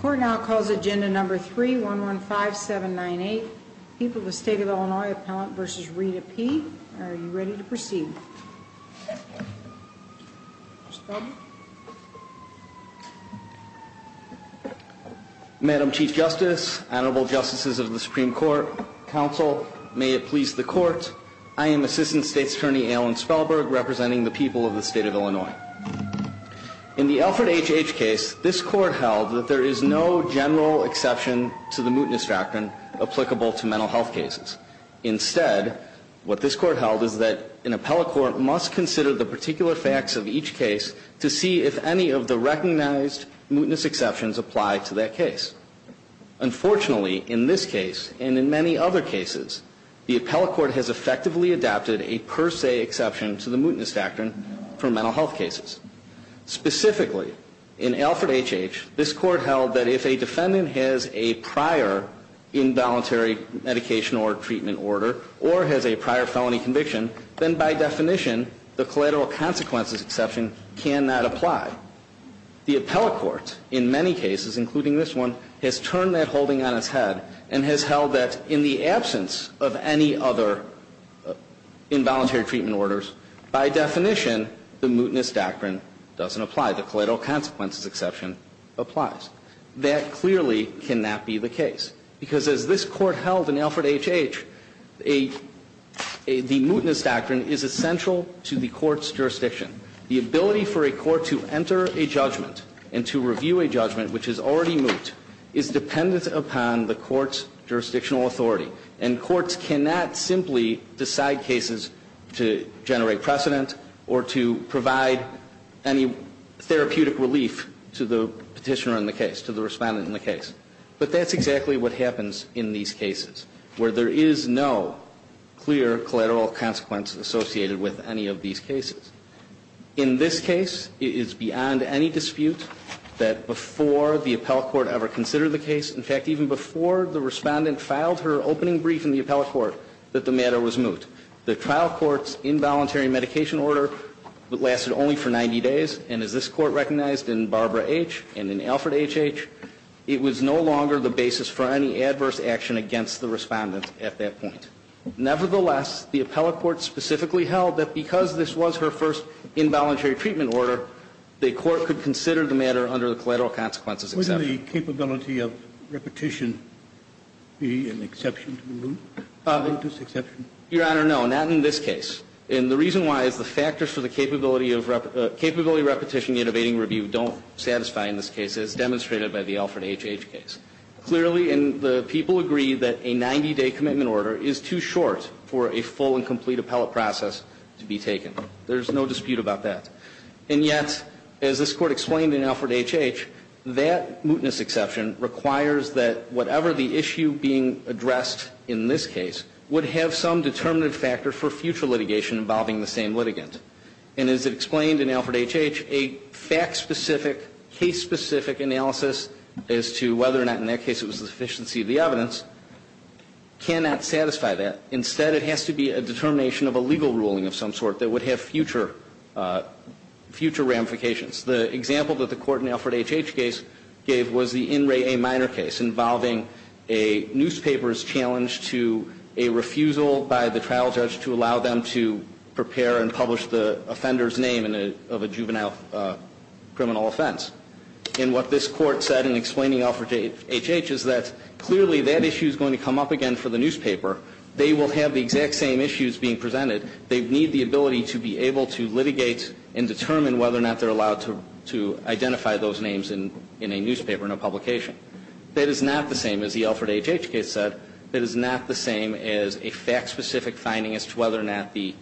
Court now calls agenda number 3-115-798, People of the State of Illinois Appellant v. Rita P. Are you ready to proceed? Madam Chief Justice, Honorable Justices of the Supreme Court, Counsel, may it please the Court. I am Assistant State's Attorney Alan Spellberg representing the people of the State of Illinois. In the Alfred H. H. case, this Court held that there is no general exception to the mootness doctrine applicable to mental health cases. Instead, what this Court held is that an appellate court must consider the particular facts of each case to see if any of the recognized mootness exceptions apply to that case. Unfortunately, in this case, and in many other cases, the appellate court has effectively adopted a per se exception to the mootness doctrine for mental health cases. Specifically, in Alfred H. H., this Court held that if a defendant has a prior involuntary medication or treatment order or has a prior felony conviction, then by definition, the collateral consequences exception cannot apply. The appellate court, in many cases, including this one, has turned that holding on its head and has held that in the absence of any other involuntary treatment orders, by definition, the mootness doctrine doesn't apply. The collateral consequences exception applies. That clearly cannot be the case, because as this Court held in Alfred H. H., the mootness doctrine is essential to the Court's jurisdiction. The ability for a court to enter a judgment and to review a judgment which is already moot is dependent upon the court's jurisdictional authority. And courts cannot simply decide cases to generate precedent or to provide any therapeutic relief to the Petitioner in the case, to the Respondent in the case. But that's exactly what happens in these cases, where there is no clear collateral consequence associated with any of these cases. In this case, it is beyond any dispute that before the appellate court ever considered the case, in fact, even before the Respondent filed her opening brief in the appellate court, that the matter was moot. The trial court's involuntary medication order lasted only for 90 days, and as this Court recognized in Barbara H. and in Alfred H. H., it was no longer the basis for any adverse action against the Respondent at that point. Nevertheless, the appellate court specifically held that because this was her first involuntary treatment order, the Court could consider the matter under the collateral consequences exception. Wouldn't the capability of repetition be an exception to the moot? Mootness exception? Your Honor, no, not in this case. And the reason why is the factors for the capability of repetition in evading review don't satisfy in this case, as demonstrated by the Alfred H. H. case. Clearly, and the people agree that a 90-day commitment order is too short for a full and complete appellate process to be taken. There's no dispute about that. And yet, as this Court explained in Alfred H. H., that mootness exception requires that whatever the issue being addressed in this case would have some determinative factor for future litigation involving the same litigant. And as it explained in Alfred H. H., a fact-specific, case-specific analysis as to whether or not in their case it was the sufficiency of the evidence cannot satisfy that. Instead, it has to be a determination of a legal ruling of some sort that would have future ramifications. The example that the Court in the Alfred H. H. case gave was the In Re A Minor case involving a newspaper's challenge to a refusal by the trial judge to allow them to prepare and publish the offender's name of a juvenile criminal offense. And what this Court said in explaining Alfred H. H. is that clearly that issue is going to come up again for the newspaper. They will have the exact same issues being presented. They need the ability to be able to litigate and determine whether or not they're allowed to identify those names in a newspaper, in a publication. That is not the same, as the Alfred H. H. case said, that is not the same as a fact-specific finding as to whether or not the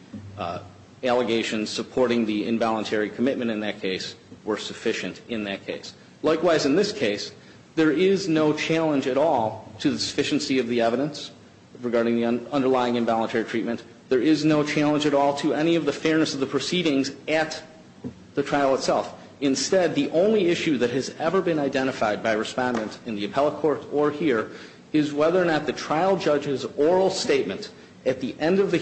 allegations supporting the involuntary commitment in that case were sufficient in that case. Likewise, in this case, there is no challenge at all to the sufficiency of the evidence regarding the underlying involuntary treatment. There is no challenge at all to any of the fairness of the proceedings at the trial itself. Instead, the only issue that has ever been identified by Respondent in the appellate court or here is whether or not the trial judge's oral statement at the end of the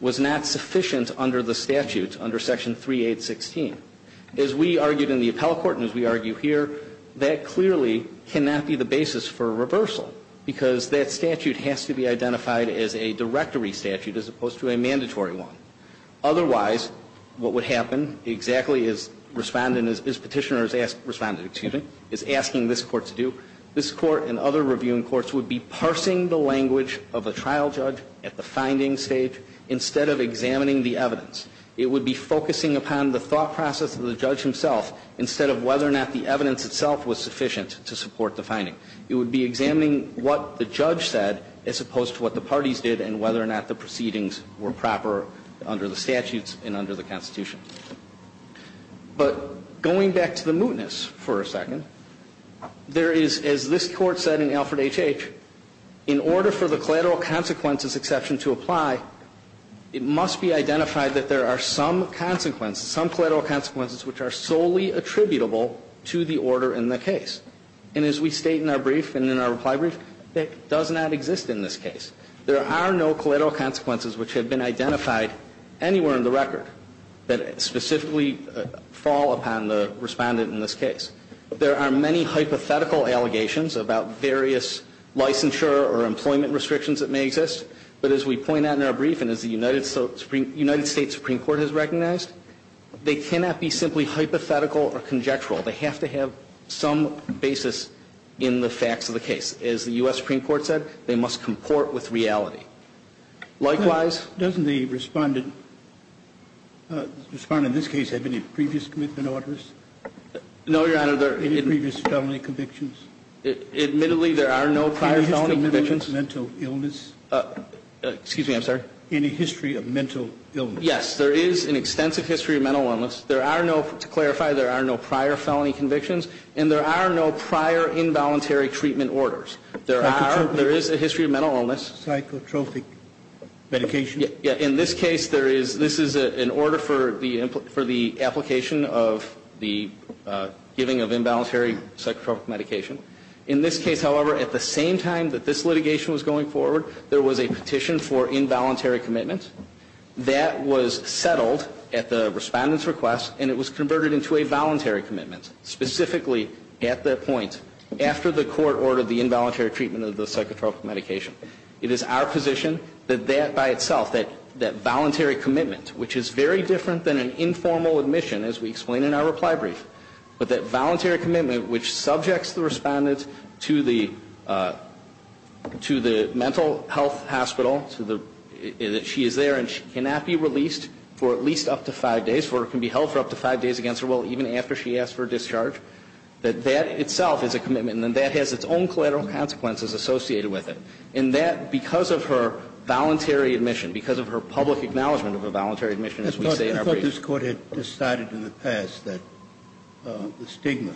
was not sufficient under the statute, under Section 3816. As we argued in the appellate court and as we argue here, that clearly cannot be the basis for a reversal, because that statute has to be identified as a directory statute as opposed to a mandatory one. Otherwise, what would happen, exactly as Respondent, as Petitioner is asking this Court to do, this Court and other reviewing courts would be parsing the language of a trial judge at the finding stage instead of examining the evidence. It would be focusing upon the thought process of the judge himself instead of whether or not the evidence itself was sufficient to support the finding. It would be examining what the judge said as opposed to what the parties did and whether or not the proceedings were proper under the statutes and under the Constitution. But going back to the mootness for a second, there is, as this Court said in Alfred H. H., in order for the collateral consequences exception to apply, it must be identified that there are some consequences, some collateral consequences which are solely attributable to the order in the case. And as we state in our brief and in our reply brief, that does not exist in this case. There are no collateral consequences which have been identified anywhere in the record that specifically fall upon the Respondent in this case. There are many hypothetical allegations about various licensure or employment restrictions that may exist. But as we point out in our brief and as the United States Supreme Court has recognized, they cannot be simply hypothetical or conjectural. They have to have some basis in the facts of the case. As the U.S. Supreme Court said, they must comport with reality. Likewise ---- Doesn't the Respondent in this case have any previous commitment orders? No, Your Honor. Any previous felony convictions? Admittedly, there are no prior felony convictions. Any history of mental illness? Excuse me. I'm sorry. Any history of mental illness? Yes. There is an extensive history of mental illness. There are no, to clarify, there are no prior felony convictions. And there are no prior involuntary treatment orders. Psychotropic? There is a history of mental illness. Psychotropic medication? In this case, this is an order for the application of the giving of involuntary psychotropic medication. In this case, however, at the same time that this litigation was going forward, there was a petition for involuntary commitment. That was settled at the Respondent's request, and it was converted into a voluntary commitment. Specifically, at that point, after the court ordered the involuntary treatment of the psychotropic medication. It is our position that that by itself, that voluntary commitment, which is very different than an informal admission, as we explain in our reply brief. But that voluntary commitment, which subjects the Respondent to the mental health hospital, that she is there and she cannot be released for at least up to five days, or can be held for up to five days against her will, even after she asks for a discharge. That that itself is a commitment, and that has its own collateral consequences associated with it. And that, because of her voluntary admission, because of her public acknowledgment of a voluntary admission, as we say in our briefs. I thought this Court had decided in the past that the stigma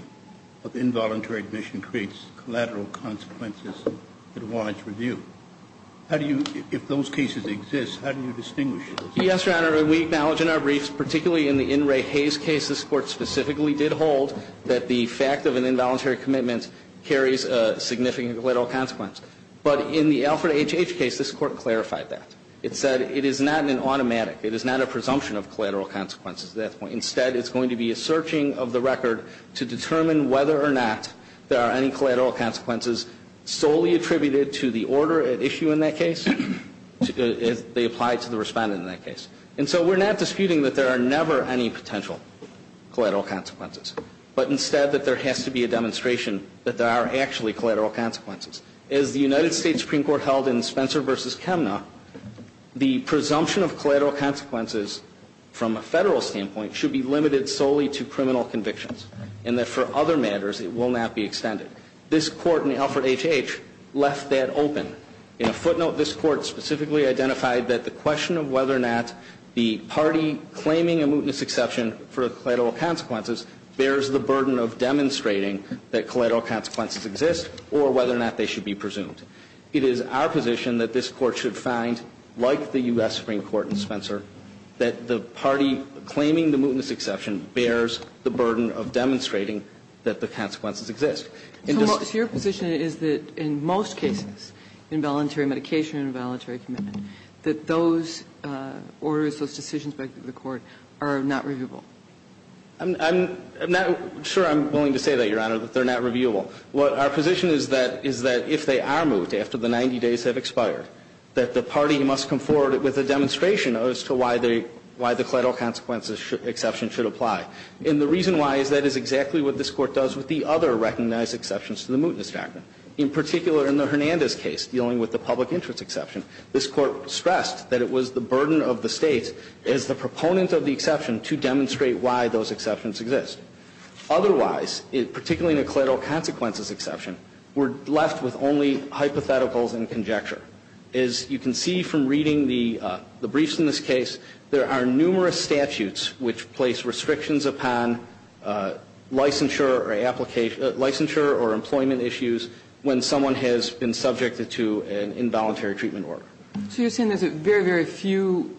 of involuntary admission creates collateral consequences that warrant review. How do you, if those cases exist, how do you distinguish those? Yes, Your Honor. We acknowledge in our briefs, particularly in the N. Ray Hayes case, this Court specifically did hold that the fact of an involuntary commitment carries a significant collateral consequence. But in the Alfred H. H. case, this Court clarified that. It said it is not an automatic, it is not a presumption of collateral consequences at that point. Instead, it's going to be a searching of the record to determine whether or not there are any collateral consequences solely attributed to the order at issue in that case, as they apply to the Respondent in that case. And so we're not disputing that there are never any potential collateral consequences. But instead, that there has to be a demonstration that there are actually collateral consequences. And if the United States Supreme Court held in Spencer v. Kemna the presumption of collateral consequences from a Federal standpoint should be limited solely to criminal convictions, and that for other matters it will not be extended. This Court in the Alfred H. H. left that open. In a footnote, this Court specifically identified that the question of whether or not the party claiming a mootness exception for collateral consequences bears the burden of demonstrating that collateral consequences exist or whether or not they should be presumed. It is our position that this Court should find, like the U.S. Supreme Court in Spencer, that the party claiming the mootness exception bears the burden of demonstrating that the consequences exist. And just to your position is that in most cases, involuntary medication, involuntary commitment, that those orders, those decisions by the Court are not reviewable? I'm not sure I'm willing to say that, Your Honor, that they're not reviewable. What our position is that is that if they are moot after the 90 days have expired, that the party must come forward with a demonstration as to why they, why the collateral consequences exception should apply. And the reason why is that is exactly what this Court does with the other recognized exceptions to the Mootness Act. In particular, in the Hernandez case, dealing with the public interest exception, this Court stressed that it was the burden of the State as the proponent of the exception to demonstrate why those exceptions exist. Otherwise, particularly in a collateral consequences exception, we're left with only hypotheticals and conjecture. As you can see from reading the briefs in this case, there are numerous statutes which place restrictions upon licensure or employment issues when someone has been subjected to an involuntary treatment order. So you're saying there's very, very few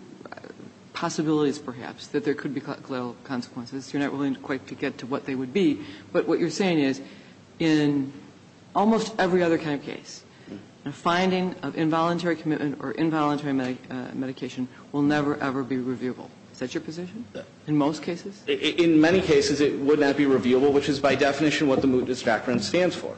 possibilities, perhaps, that there could be collateral consequences. You're not willing quite to get to what they would be. But what you're saying is in almost every other kind of case, a finding of involuntary commitment or involuntary medication will never, ever be reviewable. Is that your position in most cases? In many cases, it would not be reviewable, which is by definition what the Mootness doctrine stands for.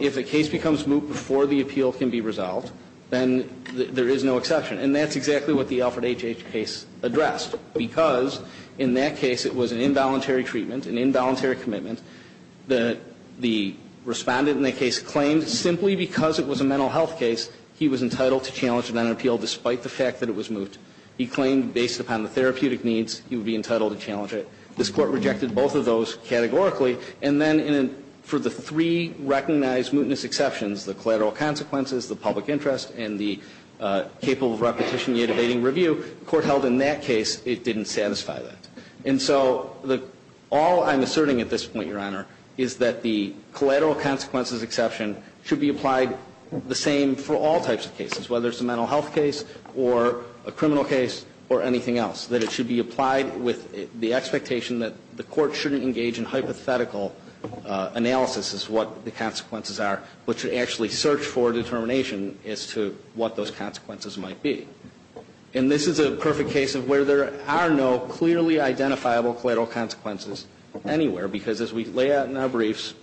If a case becomes moot before the appeal can be resolved, then there is no exception. And that's exactly what the Alfred H.H. case addressed, because in that case it was an involuntary treatment, an involuntary commitment. The Respondent in that case claimed simply because it was a mental health case, he was entitled to challenge it on an appeal despite the fact that it was moot. He claimed based upon the therapeutic needs, he would be entitled to challenge it. This Court rejected both of those categorically. And then for the three recognized Mootness exceptions, the collateral consequences, the public interest, and the capable of repetition, yet evading review, the Court held in that case it didn't satisfy that. And so all I'm asserting at this point, Your Honor, is that the collateral consequences exception should be applied the same for all types of cases, whether it's a mental health case or a criminal case or anything else, that it should be applied with the expectation that the Court shouldn't engage in hypothetical analysis as to what the consequences might be. And this is a perfect case of where there are no clearly identifiable collateral consequences anywhere, because as we lay out in our briefs,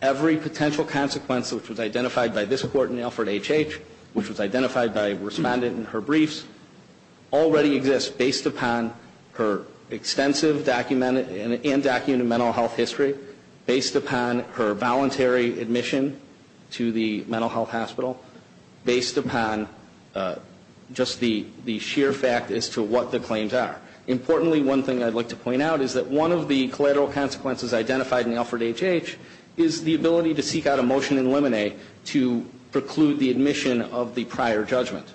every potential consequence which was identified by this Court in Alford H.H., which was identified by Respondent in her briefs, already exists based upon her extensive undocumented mental health history, based upon her voluntary admission to the mental health hospital, based upon just the sheer fact as to what the claims are. Importantly, one thing I'd like to point out is that one of the collateral consequences identified in Alford H.H. is the ability to seek out a motion to eliminate to preclude the admission of the prior judgment.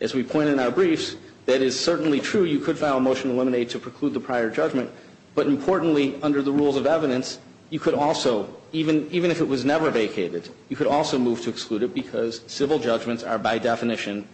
As we point in our briefs, that is certainly true. You could file a motion to eliminate to preclude the prior judgment. But importantly, under the rules of evidence, you could also, even if it was never vacated, you could also move to exclude it because civil judgments are by definition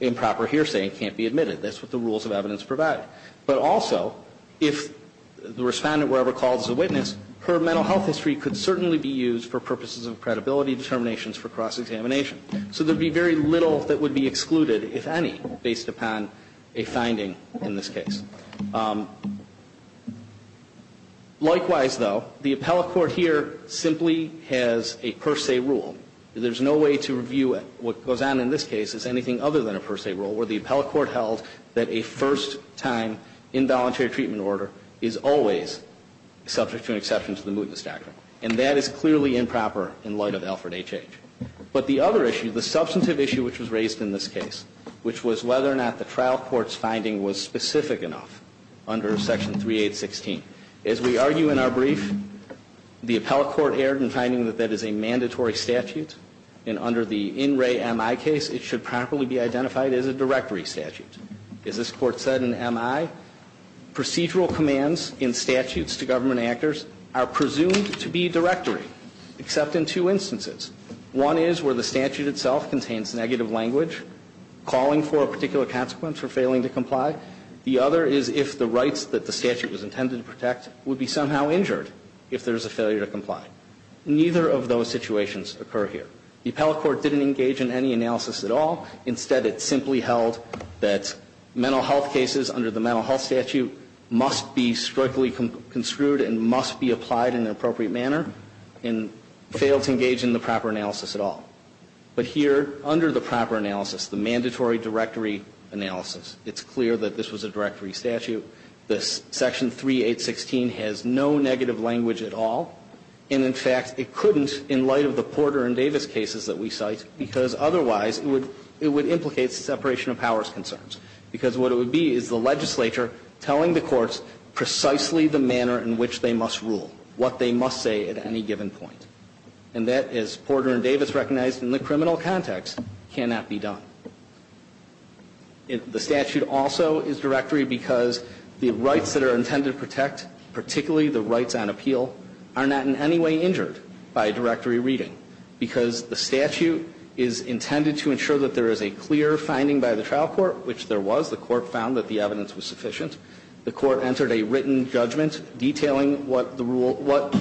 improper hearsay and can't be admitted. That's what the rules of evidence provide. But also, if the Respondent were ever called as a witness, her mental health history could certainly be used for purposes of credibility determinations for cross-examination. So there would be very little that would be excluded, if any, based upon a finding in this case. Likewise, though, the appellate court here simply has a per se rule. There's no way to review what goes on in this case as anything other than a per se rule, where the appellate court held that a first-time involuntary treatment order is always subject to an exception to the mootness doctrine. And that is clearly improper in light of Alford H.H. But the other issue, the substantive issue which was raised in this case, which was whether or not the trial court's finding was specific enough under Section 3816. As we argue in our brief, the appellate court erred in finding that that is a mandatory statute, and under the In Re MI case, it should properly be identified as a directory statute. As this Court said in MI, procedural commands in statutes to government actors are presumed to be directory, except in two instances. One is where the statute itself contains negative language calling for a particular consequence for failing to comply. The other is if the rights that the statute was intended to protect would be somehow injured if there is a failure to comply. Neither of those situations occur here. The appellate court didn't engage in any analysis at all. Instead, it simply held that mental health cases under the mental health statute must be strictly construed and must be applied in an appropriate manner, and failed to engage in the proper analysis at all. But here, under the proper analysis, the mandatory directory analysis, it's clear that this was a directory statute. This Section 3816 has no negative language at all. And in fact, it couldn't in light of the Porter and Davis cases that we cite, because otherwise it would implicate separation of powers concerns, because what it would be is the legislature telling the courts precisely the manner in which they must rule, what they must say at any given point. And that, as Porter and Davis recognized in the criminal context, cannot be done. The statute also is directory because the rights that are intended to protect, particularly the rights on appeal, are not in any way injured by a directory reading, because the statute is intended to ensure that there is a clear finding by the trial court, which there was. The court found that the evidence was sufficient. The court entered a written judgment detailing what the rule, what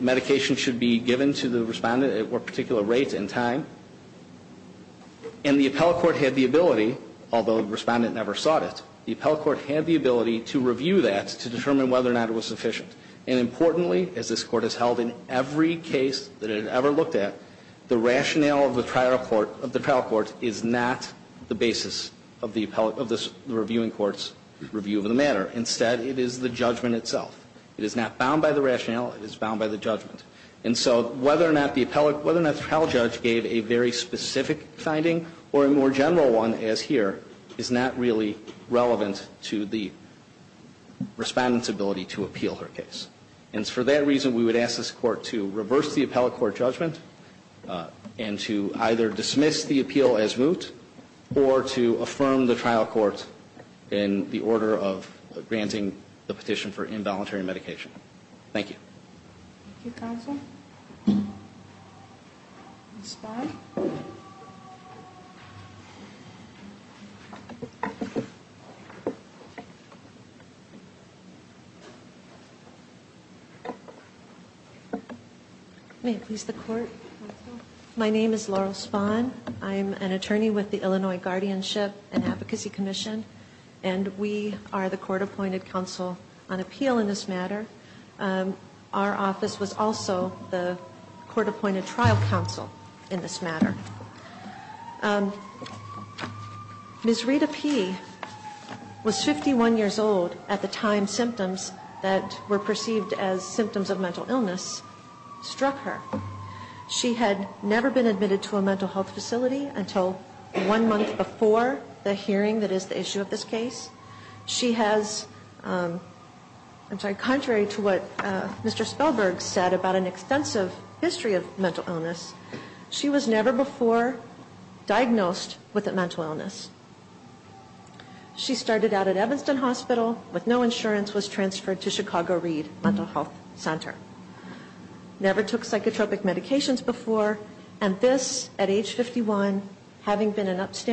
medication should be given to the respondent at what particular rate and time. And the appellate court had the ability, although the respondent never sought it, the appellate court had the ability to review that to determine whether or not it was sufficient. And importantly, as this Court has held in every case that it had ever looked at, the rationale of the trial court is not the basis of the appellate, of the reviewing court's review of the matter. Instead, it is the judgment itself. It is not bound by the rationale. It is bound by the judgment. And so whether or not the appellate, whether or not the trial judge gave a very specific finding or a more general one, as here, is not really relevant to the Respondent's ability to appeal her case. And for that reason, we would ask this Court to reverse the appellate court judgment and to either dismiss the appeal as moot or to affirm the trial court in the order of granting the petition for involuntary medication. Thank you. Thank you, Counsel. Ms. Spahn. May it please the Court. My name is Laurel Spahn. I'm an attorney with the Illinois Guardianship and Advocacy Commission, and we are the Our office was also the court-appointed trial counsel in this matter. Ms. Rita P. was 51 years old at the time symptoms that were perceived as symptoms of mental illness struck her. She had never been admitted to a mental health facility until one month before the hearing that is the issue of this case. She has, I'm sorry, contrary to what Mr. Spellberg said about an extensive history of mental illness, she was never before diagnosed with a mental illness. She started out at Evanston Hospital with no insurance, was transferred to Chicago Reed Mental Health Center. Never took psychotropic medications before, and this, at age 51, having been an adult,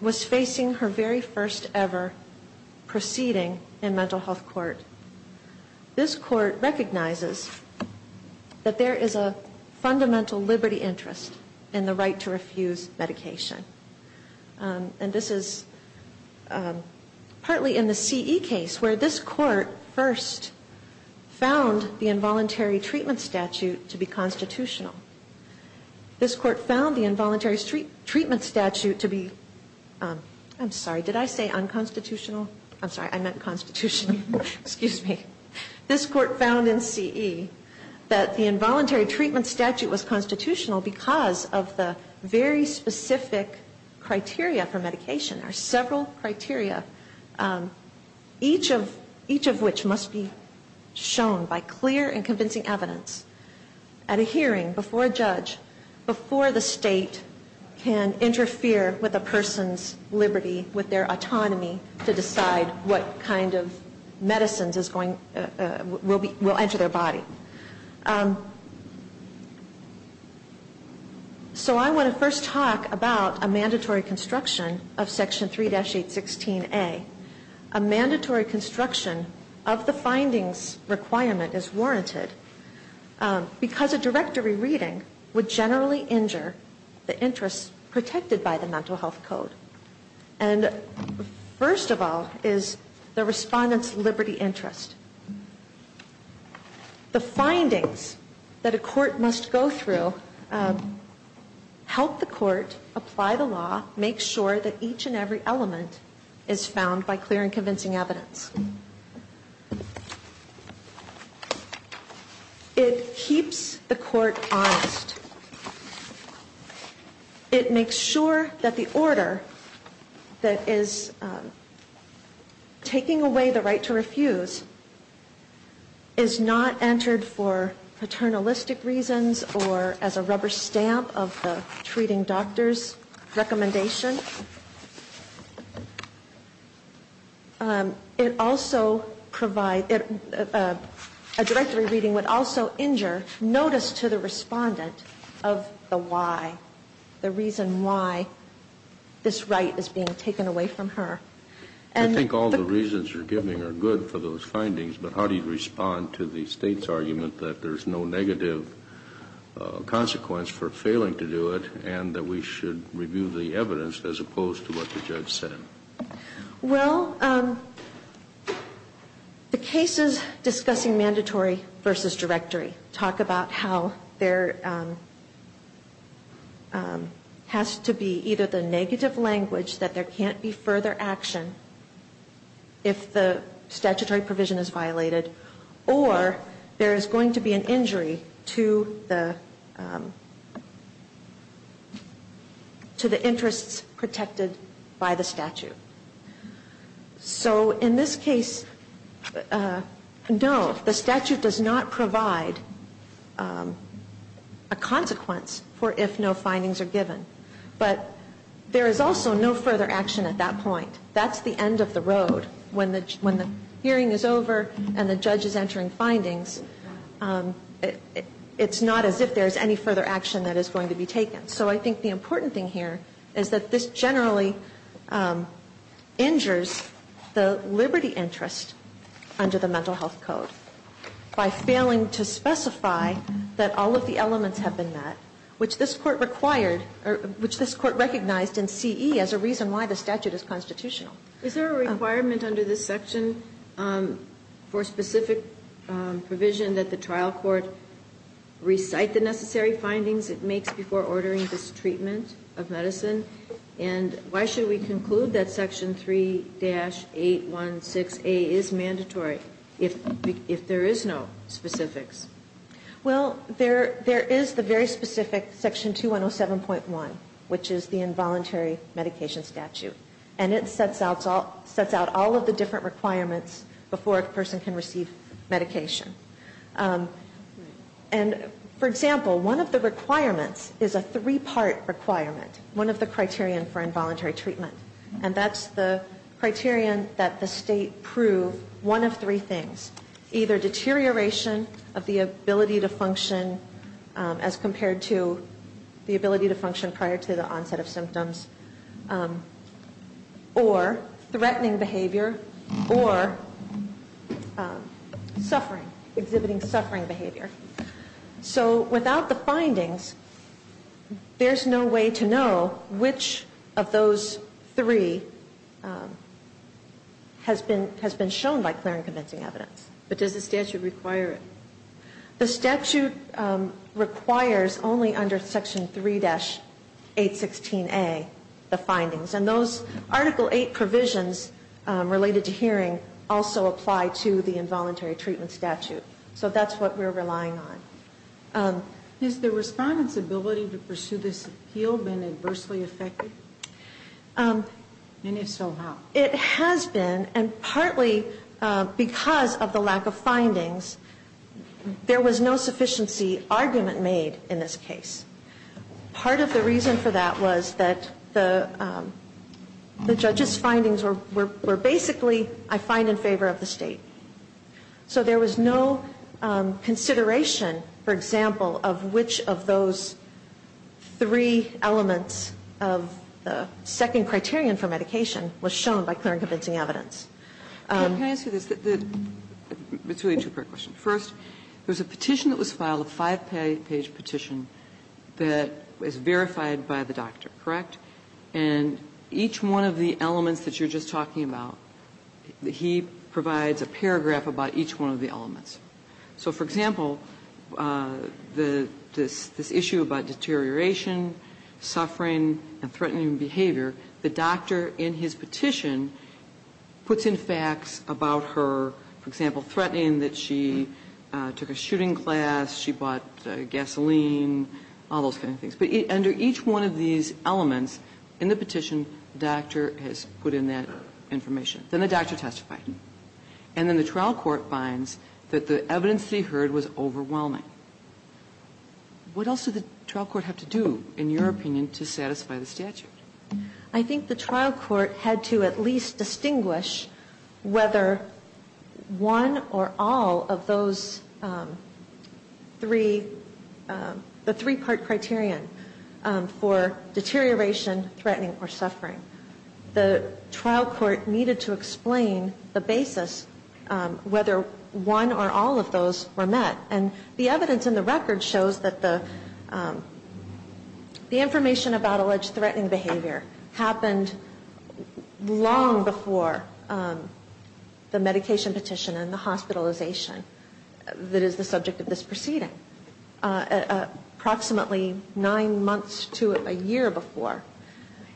was facing her very first ever proceeding in mental health court. This court recognizes that there is a fundamental liberty interest in the right to refuse medication. And this is partly in the CE case where this court first found the involuntary treatment statute to be constitutional. This court found the involuntary treatment statute to be, I'm sorry, did I say unconstitutional? I'm sorry, I meant constitutional. Excuse me. This court found in CE that the involuntary treatment statute was constitutional because of the very specific criteria for medication. There are several criteria, each of which must be shown by clear and convincing evidence at a hearing, before a judge, before the state can interfere with a person's liberty, with their autonomy to decide what kind of medicines is going, will enter their body. So I want to first talk about a mandatory construction of Section 3-816A. A mandatory construction of the findings requirement is warranted because a directory reading would generally injure the interests protected by the Mental Health Code. And first of all is the respondent's liberty interest. The findings that a court must go through help the court apply the law, make sure that each and every element is found by clear and convincing evidence. It keeps the court honest. It makes sure that the order that is taking away the right to refuse is not entered for paternalistic reasons or as a rubber stamp of the treating doctor's recommendation. It also provides, a directory reading would also injure notice to the respondent of the why, the reason why this right is being taken away from her. I think all the reasons you're giving are good for those findings, but how do you respond to the State's argument that there's no negative consequence for failing to do it and that we should review the evidence as opposed to what the judge said? Well, the cases discussing mandatory versus directory talk about how there has to be either the negative language that there can't be further action if the statutory provision is violated, or there is going to be an injury to the interests protected by the statute. So in this case, no, the statute does not provide a consequence for if no findings are given. But there is also no further action at that point. That's the end of the road. When the hearing is over and the judge is entering findings, it's not as if there's any further action that is going to be taken. So I think the important thing here is that this generally injures the liberty interest under the Mental Health Code by failing to specify that all of the elements have been met, which this Court recognized in CE as a reason why the statute is constitutional. Is there a requirement under this section for specific provision that the trial court recite the necessary findings it makes before ordering this treatment of medicine? And why should we conclude that Section 3-816A is mandatory if there is no specifics? Well, there is the very specific Section 2107.1, which is the involuntary medication statute. And it sets out all of the different requirements before a person can receive medication. And, for example, one of the requirements is a three-part requirement, one of the criterion for involuntary treatment. And that's the criterion that the State prove one of three things. Either deterioration of the ability to function as compared to the ability to function prior to the onset of symptoms, or threatening behavior, or suffering, exhibiting suffering behavior. So without the findings, there's no way to know which of those three has been shown by clear and convincing evidence. But does the statute require it? The statute requires only under Section 3-816A the findings. And those Article 8 provisions related to hearing also apply to the involuntary treatment statute. So that's what we're relying on. Has the Respondent's ability to pursue this appeal been adversely affected? And if so, how? It has been, and partly because of the lack of findings, there was no sufficiency argument made in this case. Part of the reason for that was that the judge's findings were basically, I find in favor of the State. So there was no consideration, for example, of which of those three elements of the second criterion for medication was shown by clear and convincing evidence. Can I ask you this? It's really a two-part question. First, there's a petition that was filed, a five-page petition that is verified by the doctor, correct? And each one of the elements that you're just talking about, he provides a paragraph about each one of the elements. So, for example, this issue about deterioration, suffering, and threatening behavior, the doctor in his petition puts in facts about her, for example, threatening that she took a shooting class, she bought gasoline, all those kind of things. But under each one of these elements in the petition, the doctor has put in that information. Then the doctor testified. And then the trial court finds that the evidence that he heard was overwhelming. What else did the trial court have to do, in your opinion, to satisfy the statute? I think the trial court had to at least distinguish whether one or all of those three, the three-part criterion for deterioration, threatening, or suffering. The trial court needed to explain the basis whether one or all of those were met. And the evidence in the record shows that the information about alleged threatening behavior happened long before the medication petition and the hospitalization that is the subject of this proceeding, approximately nine months to a year before.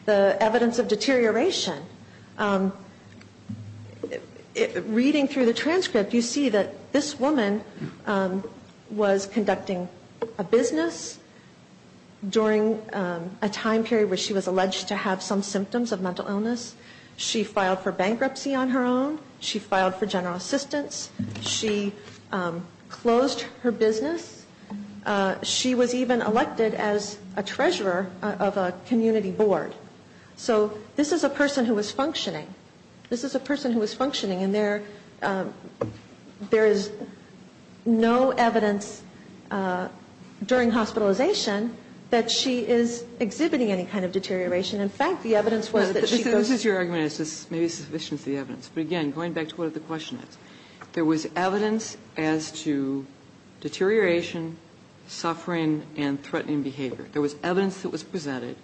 The evidence of deterioration, reading through the transcript, you see that this woman was conducting a business during a time period where she was alleged to have some symptoms of mental illness. She filed for bankruptcy on her own. She filed for general assistance. She closed her business. She was even elected as a treasurer of a community board. So this is a person who was functioning. This is a person who was functioning. And there is no evidence during hospitalization that she is exhibiting any kind of deterioration. In fact, the evidence was that she was... This is your argument. This may be sufficient as the evidence. But again, going back to what the question is, there was evidence as to deterioration, suffering, and threatening behavior. There was evidence that was presented.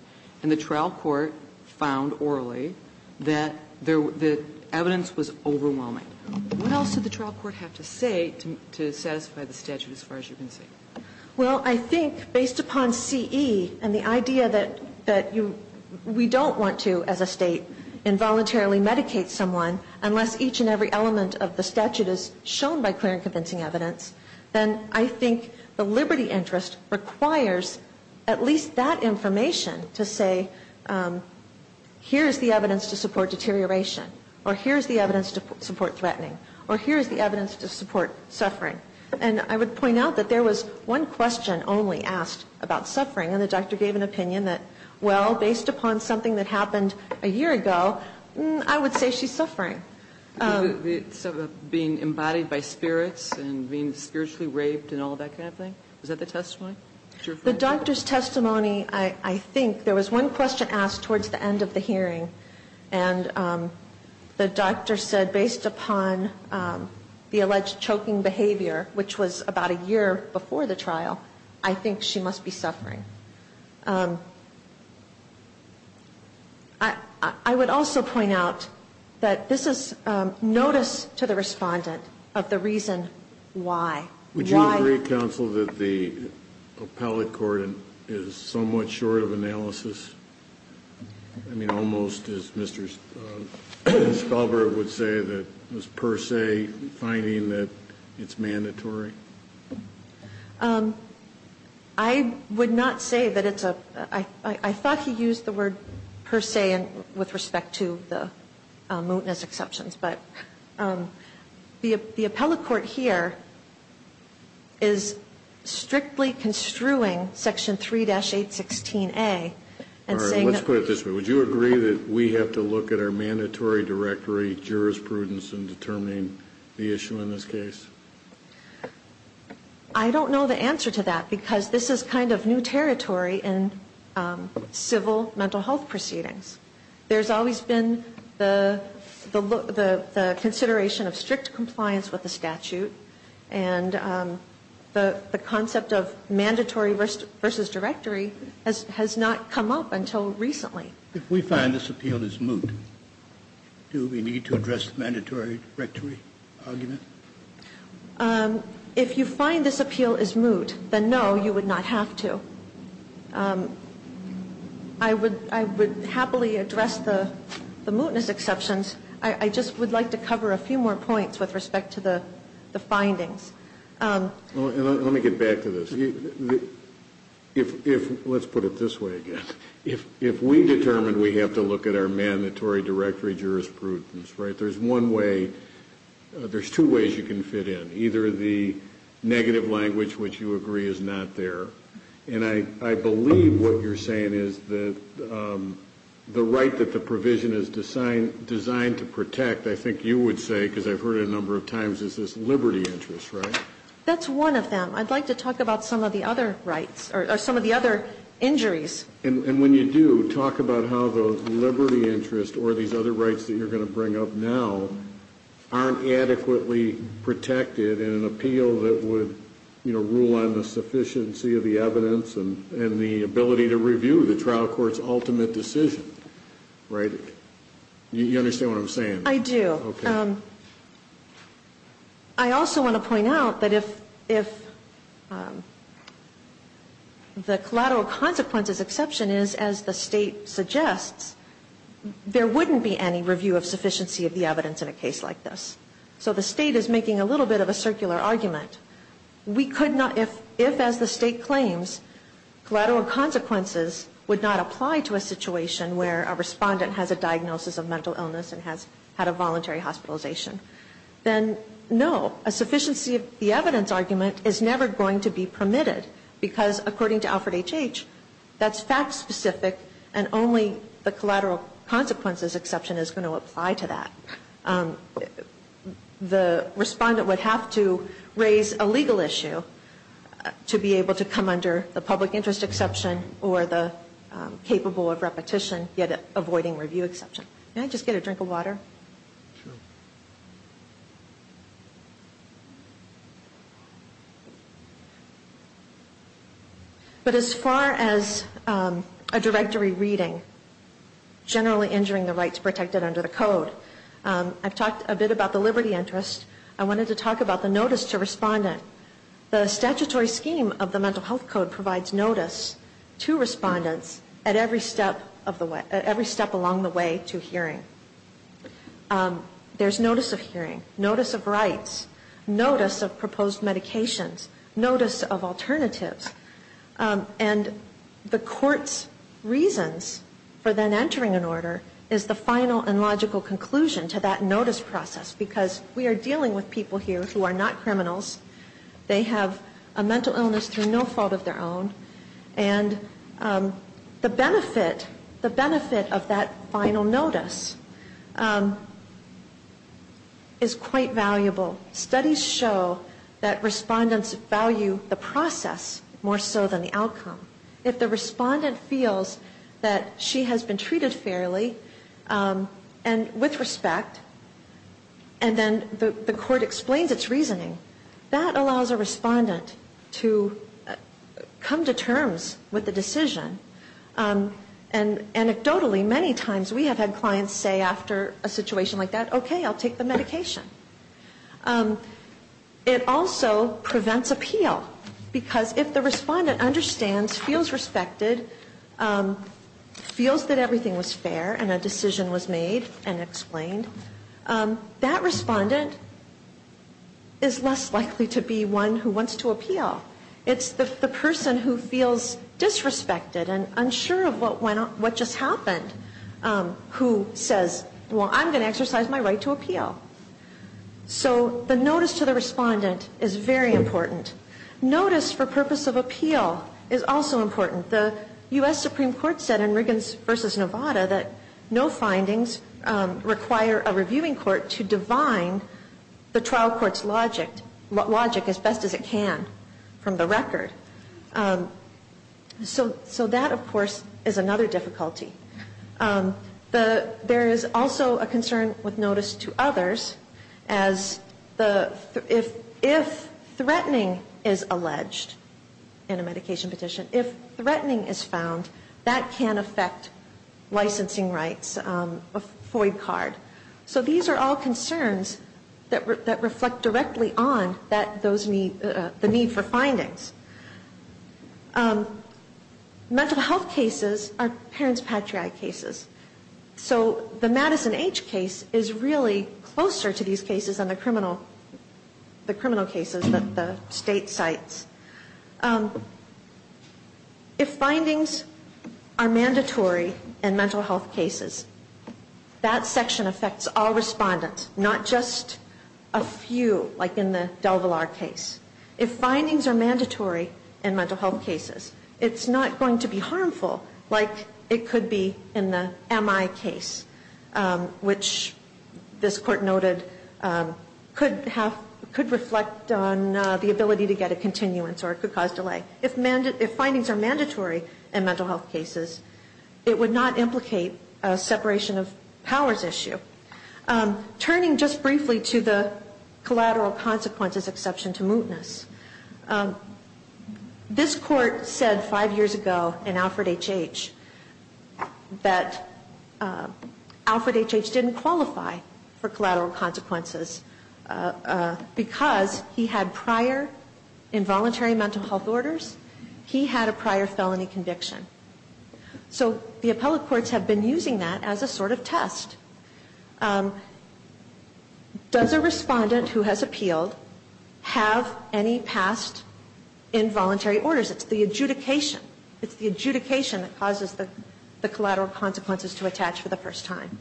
The trial court found orally that the evidence was overwhelming. What else did the trial court have to say to satisfy the statute as far as you can see? Well, I think based upon CE and the idea that we don't want to, as a State, involuntarily medicate someone unless each and every element of the statute is shown by clear and convincing evidence, then I think the liberty interest requires at least that information to say, here is the evidence to support deterioration, or here is the evidence to support threatening, or here is the evidence to support suffering. And I would point out that there was one question only asked about suffering, and the doctor gave an opinion that, well, based upon something that happened a year ago, I would say she's suffering. Being embodied by spirits and being spiritually raped and all that kind of thing? Is that the testimony? The doctor's testimony, I think, there was one question asked towards the end of the hearing, and the doctor said based upon the alleged choking behavior, which was about a year before the trial, I think she must be suffering. I would also point out that this is notice to the respondent of the reason why. Would you agree, counsel, that the appellate court is somewhat short of analysis? I mean, almost, as Mr. Stalberg would say, that it was per se finding that it's mandatory? I would not say that it's a per se. I thought he used the word per se with respect to the case. I would say that the appellate court is strictly construing Section 3-816A and saying that... All right, let's put it this way. Would you agree that we have to look at our mandatory directory jurisprudence in determining the issue in this case? I don't know the answer to that, because this is kind of new territory in civil mental health proceedings. There's always been the consideration of strict compliance with the statute, and the concept of mandatory versus directory has not come up until recently. If we find this appeal is moot, do we need to address the mandatory directory argument? If you find this appeal is moot, then no, you would not have to. I would happily address the mootness exceptions. I just would like to cover a few more points with respect to the findings. Let me get back to this. Let's put it this way again. If we determined we have to look at our mandatory directory jurisprudence, there's two ways you can fit in. Either the negative language, which you agree is not there, and I believe what you're saying is that the right that the provision is designed to protect, I think you would say, because I've heard it a number of times, is this liberty interest, right? That's one of them. I'd like to talk about some of the other injuries. And when you do, talk about how those liberty interests or these other rights that you're going to bring up now aren't adequately protected in an appeal that would rule on the sufficiency of the evidence and the ability to review the trial court's ultimate decision, right? You understand what I'm saying? I do. I also want to point out that if the collateral consequences exception is as the State suggests, there wouldn't be any review of sufficiency of the evidence in a case like this. So the State is making a little bit of a circular argument. We could not, if as the State claims, collateral consequences would not apply to a situation where a respondent has a temporary hospitalization, then no, a sufficiency of the evidence argument is never going to be permitted, because according to Alfred H.H., that's fact-specific, and only the collateral consequences exception is going to apply to that. The respondent would have to raise a legal issue to be able to come under the public interest exception or the capable of hearing exception. But as far as a directory reading, generally injuring the rights protected under the code, I've talked a bit about the liberty interest. I wanted to talk about the notice to respondent. The statutory scheme of the Mental Health Code provides notice to respondents at every step along the way to hearing. There's notice of hearing, notice of rights, notice of proposed medications, notice of alternatives. And the court's reasons for then entering an order is the final and logical conclusion to that notice process, because we are dealing with people here who are not criminals, they have a mental illness through no fault of their own, and the benefit of that final notice is quite valuable. Studies show that respondents value the process more so than the outcome. If the respondent feels that she has been treated fairly and with respect, and then the court explains its reasoning, that allows a respondent to come to terms with the decision. And anecdotally, many times we have had clients say after a situation like that, okay, I'll take the medication. It also prevents appeal, because if the respondent understands, feels respected, feels that everything was fair and a decision was made and explained, that respondent is less likely to be one who wants to appeal. It's the person who feels disrespected and unsure of what just happened who says, well, I'm going to exercise my right to appeal. So the notice to the respondent is very important. Notice for purpose of appeal is also important. The U.S. Supreme Court said in Riggins v. Nevada that no findings require a reviewing court to divine the trial court's logic as best as it can from the record. So that, of course, is another difficulty. There is also a concern with notice to others as if threatening is alleged in a medication petition, if threatening is found, that can affect licensing rights, a FOID card. So these are all concerns that reflect directly on the need for findings. Mental health cases are parents' patriotic cases. So the Madison H. case is really closer to these cases than the criminal cases that the state cites. If findings are mandatory in mental health cases, that section of federal law is not. It affects all respondents, not just a few, like in the DelVillar case. If findings are mandatory in mental health cases, it's not going to be harmful like it could be in the M.I. case, which this Court noted could reflect on the ability to get a continuance or it could cause delay. If findings are mandatory in mental health cases, it would not implicate a separation of powers issue. Turning just briefly to the collateral consequences exception to mootness, this Court said five years ago in Alfred H.H. that Alfred H.H. didn't qualify for collateral consequences because he had prior involuntary mental health orders. He had a prior felony conviction. Does a respondent who has appealed have any past involuntary orders? It's the adjudication. It's the adjudication that causes the collateral consequences to attach for the first time.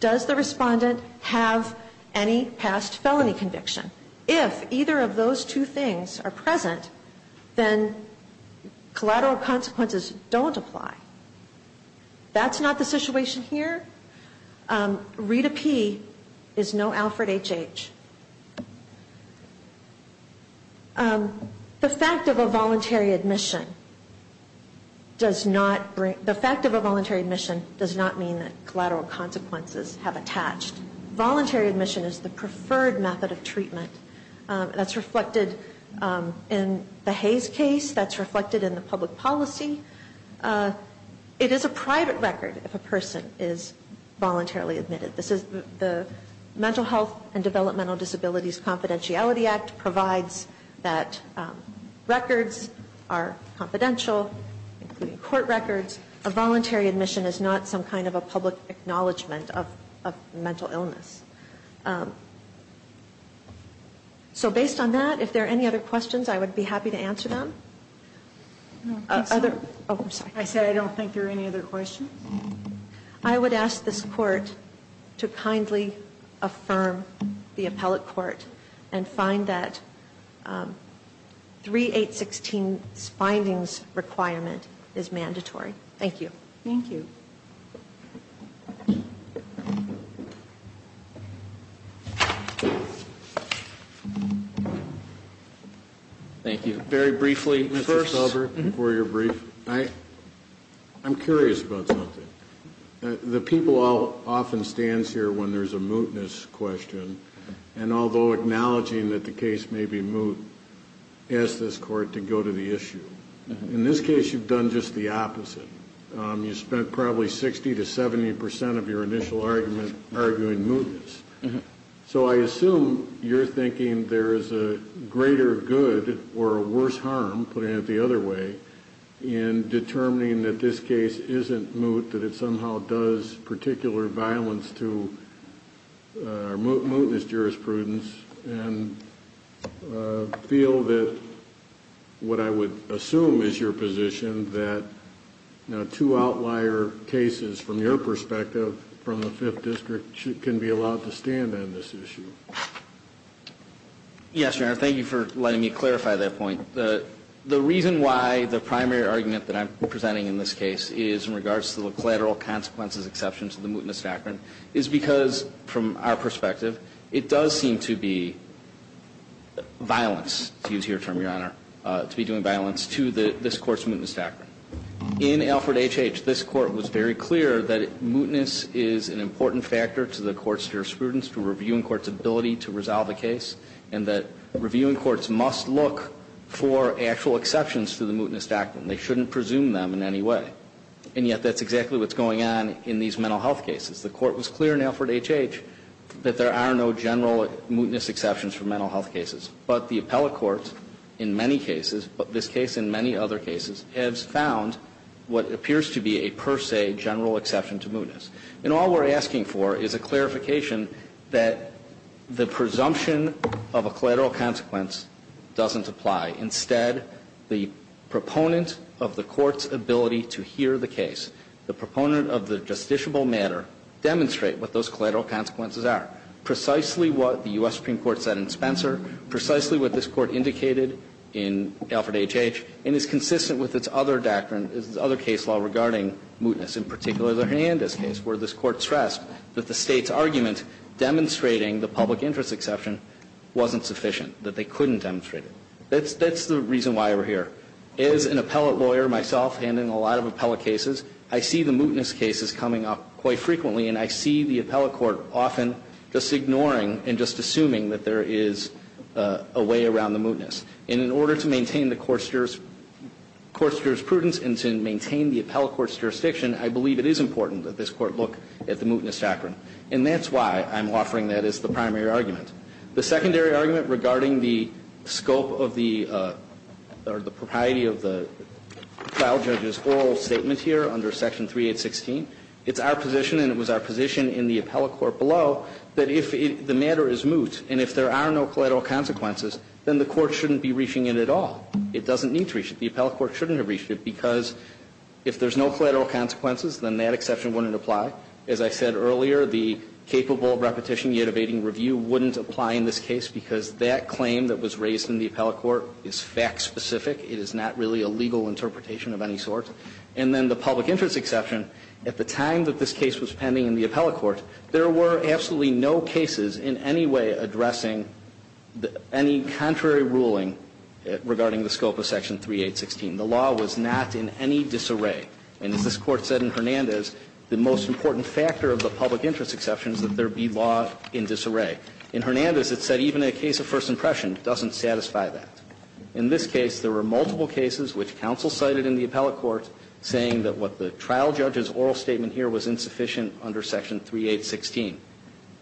Does the respondent have any past felony conviction? If either of those two things are present, then collateral consequences don't apply. That's not the situation here. Rita P. is no Alfred H.H. The fact of a voluntary admission does not bring... The fact of a voluntary admission does not mean that collateral consequences have attached. Voluntary admission is the preferred method of treatment. That's reflected in the Hays case. That's reflected in the public policy. It is a private record if a person is voluntarily admitted. The Mental Health and Developmental Disabilities Confidentiality Act provides that records are confidential, including court records. A voluntary admission is not some kind of a public acknowledgment of mental illness. So based on that, if there are any other questions, I would be happy to answer them. I said I don't think there are any other questions. I would ask this Court to kindly affirm the Appellate Court and find that 3.816's findings requirement is mandatory. Thank you. Thank you. Very briefly, Mr. Sober, before you're briefed, I'm curious about something. The people often stands here when there's a mootness question, and although acknowledging that the case may be moot, ask this Court to go to the issue. In this case, you've done just the opposite. You spent probably 60 to 70 percent of your initial argument arguing mootness. So I assume you're thinking there is a greater good or a worse harm, putting it the other way, in determining that this case isn't moot, that it somehow does particular violence to mootness jurisprudence and feel that what I would assume is your position that two outlier cases, from your perspective, from the Fifth District, can be allowed to stand on this issue. Yes, Your Honor, thank you for letting me clarify that point. The reason why the primary argument that I'm presenting in this case is in regards to the collateral consequences exceptions of the mootness doctrine is because, from our perspective, it does seem to be violence, to use your term, Your Honor, to be doing violence to this Court's mootness doctrine. In Alford H.H., this Court was very clear that mootness is an important factor to the court's jurisprudence, to reviewing court's ability to resolve a case, and that reviewing courts must look for actual exceptions to the mootness doctrine. They shouldn't presume them in any way. And yet that's exactly what's going on in these mental health cases. The Court was clear in Alford H.H. that there are no general mootness exceptions for mental health cases. But the appellate court in many cases, but this case in many other cases, has found what appears to be a per se general exception to mootness. And all we're asking for is a clarification that the presumption of a collateral consequence doesn't apply. Instead, the proponent of the court's ability to hear the case, the proponent of the justiciable matter, demonstrate what those collateral consequences are. Precisely what the U.S. Supreme Court said in Spencer, precisely what this Court indicated in Alford H.H., and is consistent with its other doctrine, its other case law regarding mootness, in particular the Hernandez case, where this Court stressed that the State's argument demonstrating the public interest exception wasn't sufficient, that they couldn't demonstrate it. That's the reason why we're here. As an appellate lawyer myself handling a lot of appellate cases, I see the mootness cases coming up quite frequently, and I see the appellate court often just ignoring and just assuming that there is a way around the mootness. And in order to maintain the court's jurisprudence and to maintain the appellate court's jurisdiction, I believe it is important that this Court look at the mootness doctrine. And that's why I'm offering that as the primary argument. The secondary argument regarding the scope of the or the propriety of the trial judge's It's our position, and it was our position in the appellate court below, that if the matter is moot and if there are no collateral consequences, then the court shouldn't be reaching it at all. It doesn't need to reach it. The appellate court shouldn't have reached it because if there's no collateral consequences, then that exception wouldn't apply. As I said earlier, the capable repetition yet evading review wouldn't apply in this case because that claim that was raised in the appellate court is fact-specific. It is not really a legal interpretation of any sort. And then the public interest exception, at the time that this case was pending in the appellate court, there were absolutely no cases in any way addressing any contrary ruling regarding the scope of Section 3816. The law was not in any disarray. And as this Court said in Hernandez, the most important factor of the public interest exception is that there be law in disarray. In Hernandez, it said even a case of first impression doesn't satisfy that. In this case, there were multiple cases which counsel cited in the appellate court saying that what the trial judge's oral statement here was insufficient under Section 3816.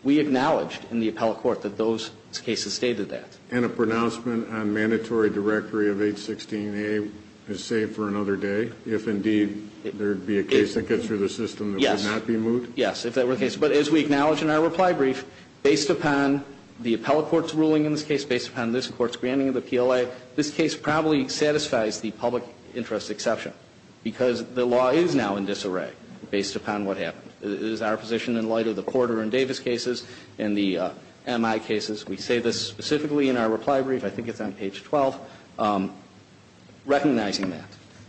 We acknowledged in the appellate court that those cases stated that. And a pronouncement on mandatory directory of 816a is saved for another day if indeed there would be a case that gets through the system that would not be moved? Yes. Yes, if that were the case. But as we acknowledge in our reply brief, based upon the appellate court's ruling in this case, based upon this Court's granting of the PLA, this case probably satisfies the public interest exception because the law is now in disarray based upon what happened. It is our position in light of the Porter and Davis cases and the MI cases, we say this specifically in our reply brief, I think it's on page 12, recognizing that.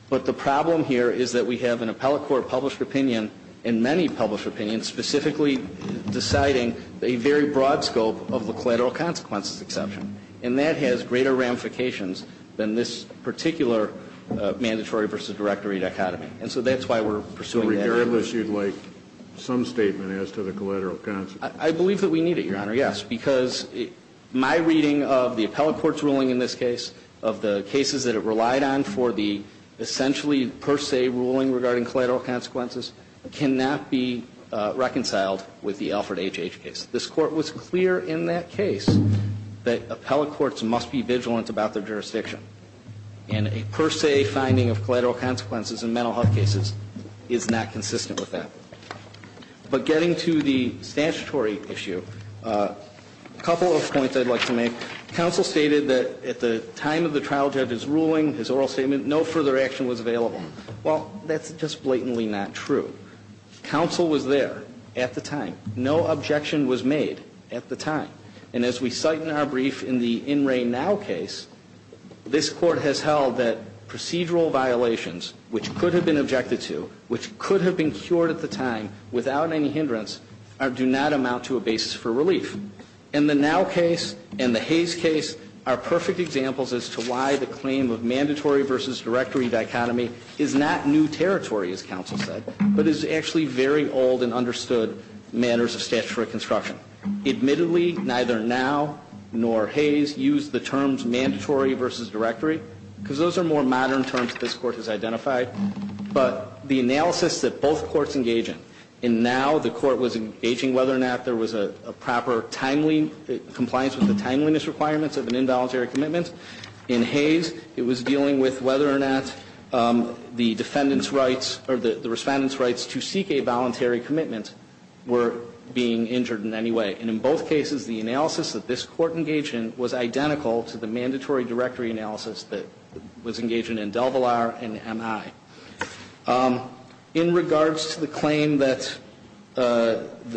But the problem here is that we have an appellate court published opinion and many published opinions specifically deciding a very broad scope of the collateral consequences exception, and that has greater ramifications than this particular mandatory v. directory dichotomy. And so that's why we're pursuing that. Regardless, you'd like some statement as to the collateral consequences? I believe that we need it, Your Honor, yes, because my reading of the appellate court's ruling in this case, of the cases that it relied on for the essentially per se ruling regarding collateral consequences, cannot be reconciled with the Alfred H.H. case. This Court was clear in that case that appellate courts must be vigilant about their jurisdiction, and a per se finding of collateral consequences in mental health cases is not consistent with that. But getting to the statutory issue, a couple of points I'd like to make. Counsel stated that at the time of the trial judge's ruling, his oral statement, no further action was available. Well, that's just blatantly not true. Counsel was there at the time. No objection was made at the time. And as we cite in our brief in the In Re Now case, this Court has held that procedural violations, which could have been objected to, which could have been cured at the time without any hindrance, do not amount to a basis for relief. And the Now case and the Hays case are perfect examples as to why the claim of mandatory v. directory dichotomy is not new territory, as Counsel said, but is actually very old and understood manners of statutory construction. Admittedly, neither Now nor Hays use the terms mandatory v. directory, because those are more modern terms this Court has identified. But the analysis that both courts engage in, in Now the Court was engaging whether or not there was a proper timely compliance with the timeliness requirements of an involuntary commitment. In Hays, it was dealing with whether or not the defendant's rights or the Respondent's rights to a voluntary commitment were being injured in any way. And in both cases, the analysis that this Court engaged in was identical to the mandatory directory analysis that was engaged in in DelVillar and MI. In regards to the claim that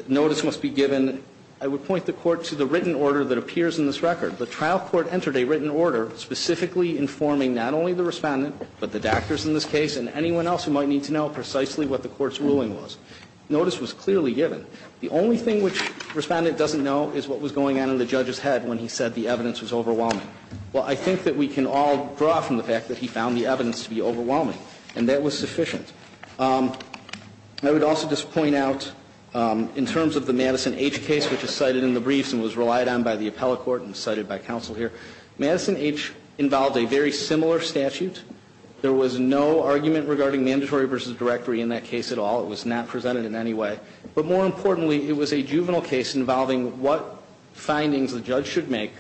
notice must be given, I would point the Court to the written order that appears in this record. The trial court entered a written order specifically informing not only the Respondent but the doctors in this case and anyone else who might need to know precisely what the Court's ruling was. Notice was clearly given. The only thing which Respondent doesn't know is what was going on in the judge's head when he said the evidence was overwhelming. Well, I think that we can all draw from the fact that he found the evidence to be overwhelming, and that was sufficient. I would also just point out, in terms of the Madison H. case, which is cited in the briefs and was relied on by the appellate court and cited by Counsel here, Madison H. involved a very similar statute. There was no argument regarding mandatory versus directory in that case at all. It was not presented in any way. But more importantly, it was a juvenile case involving what findings the judge should make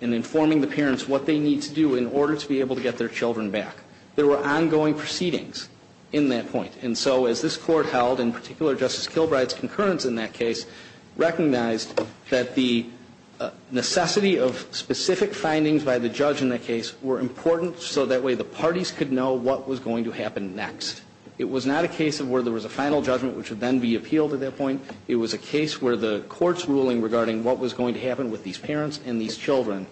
in informing the parents what they need to do in order to be able to get their children back. There were ongoing proceedings in that point. And so as this Court held, in particular Justice Kilbride's concurrence in that case, recognized that the necessity of specific findings by the judge in that case were important so that way the parties could know what was going to happen next. It was not a case where there was a final judgment which would then be appealed at that point. It was a case where the Court's ruling regarding what was going to happen with these parents and these children,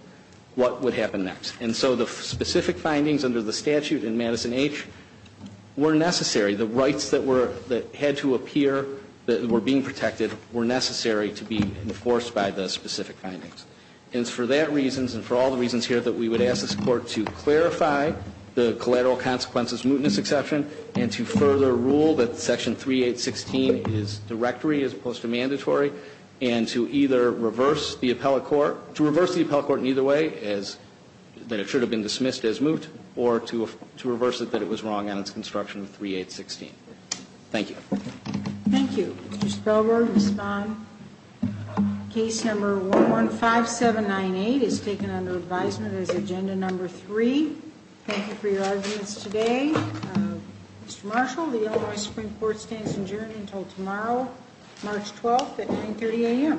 what would happen next. And so the specific findings under the statute in Madison H. were necessary. The rights that were, that had to appear, that were being protected, were necessary to be enforced by the specific findings. And it's for that reasons and for all the reasons here that we would ask this Court to clarify the collateral consequences, mootness exception, and to further rule that Section 3816 is directory as opposed to mandatory, and to either reverse the appellate court, to reverse the appellate court in either way as that it should have been dismissed as moot, or to reverse it that it was wrong on its construction of 3816. Thank you. Thank you. Mr. Spellberg, Ms. Bond. Case number 115798 is taken under advisement as agenda number three. Thank you for your arguments today. Mr. Marshall, the Illinois Supreme Court stands adjourned until tomorrow, March 12th at 930 a.m.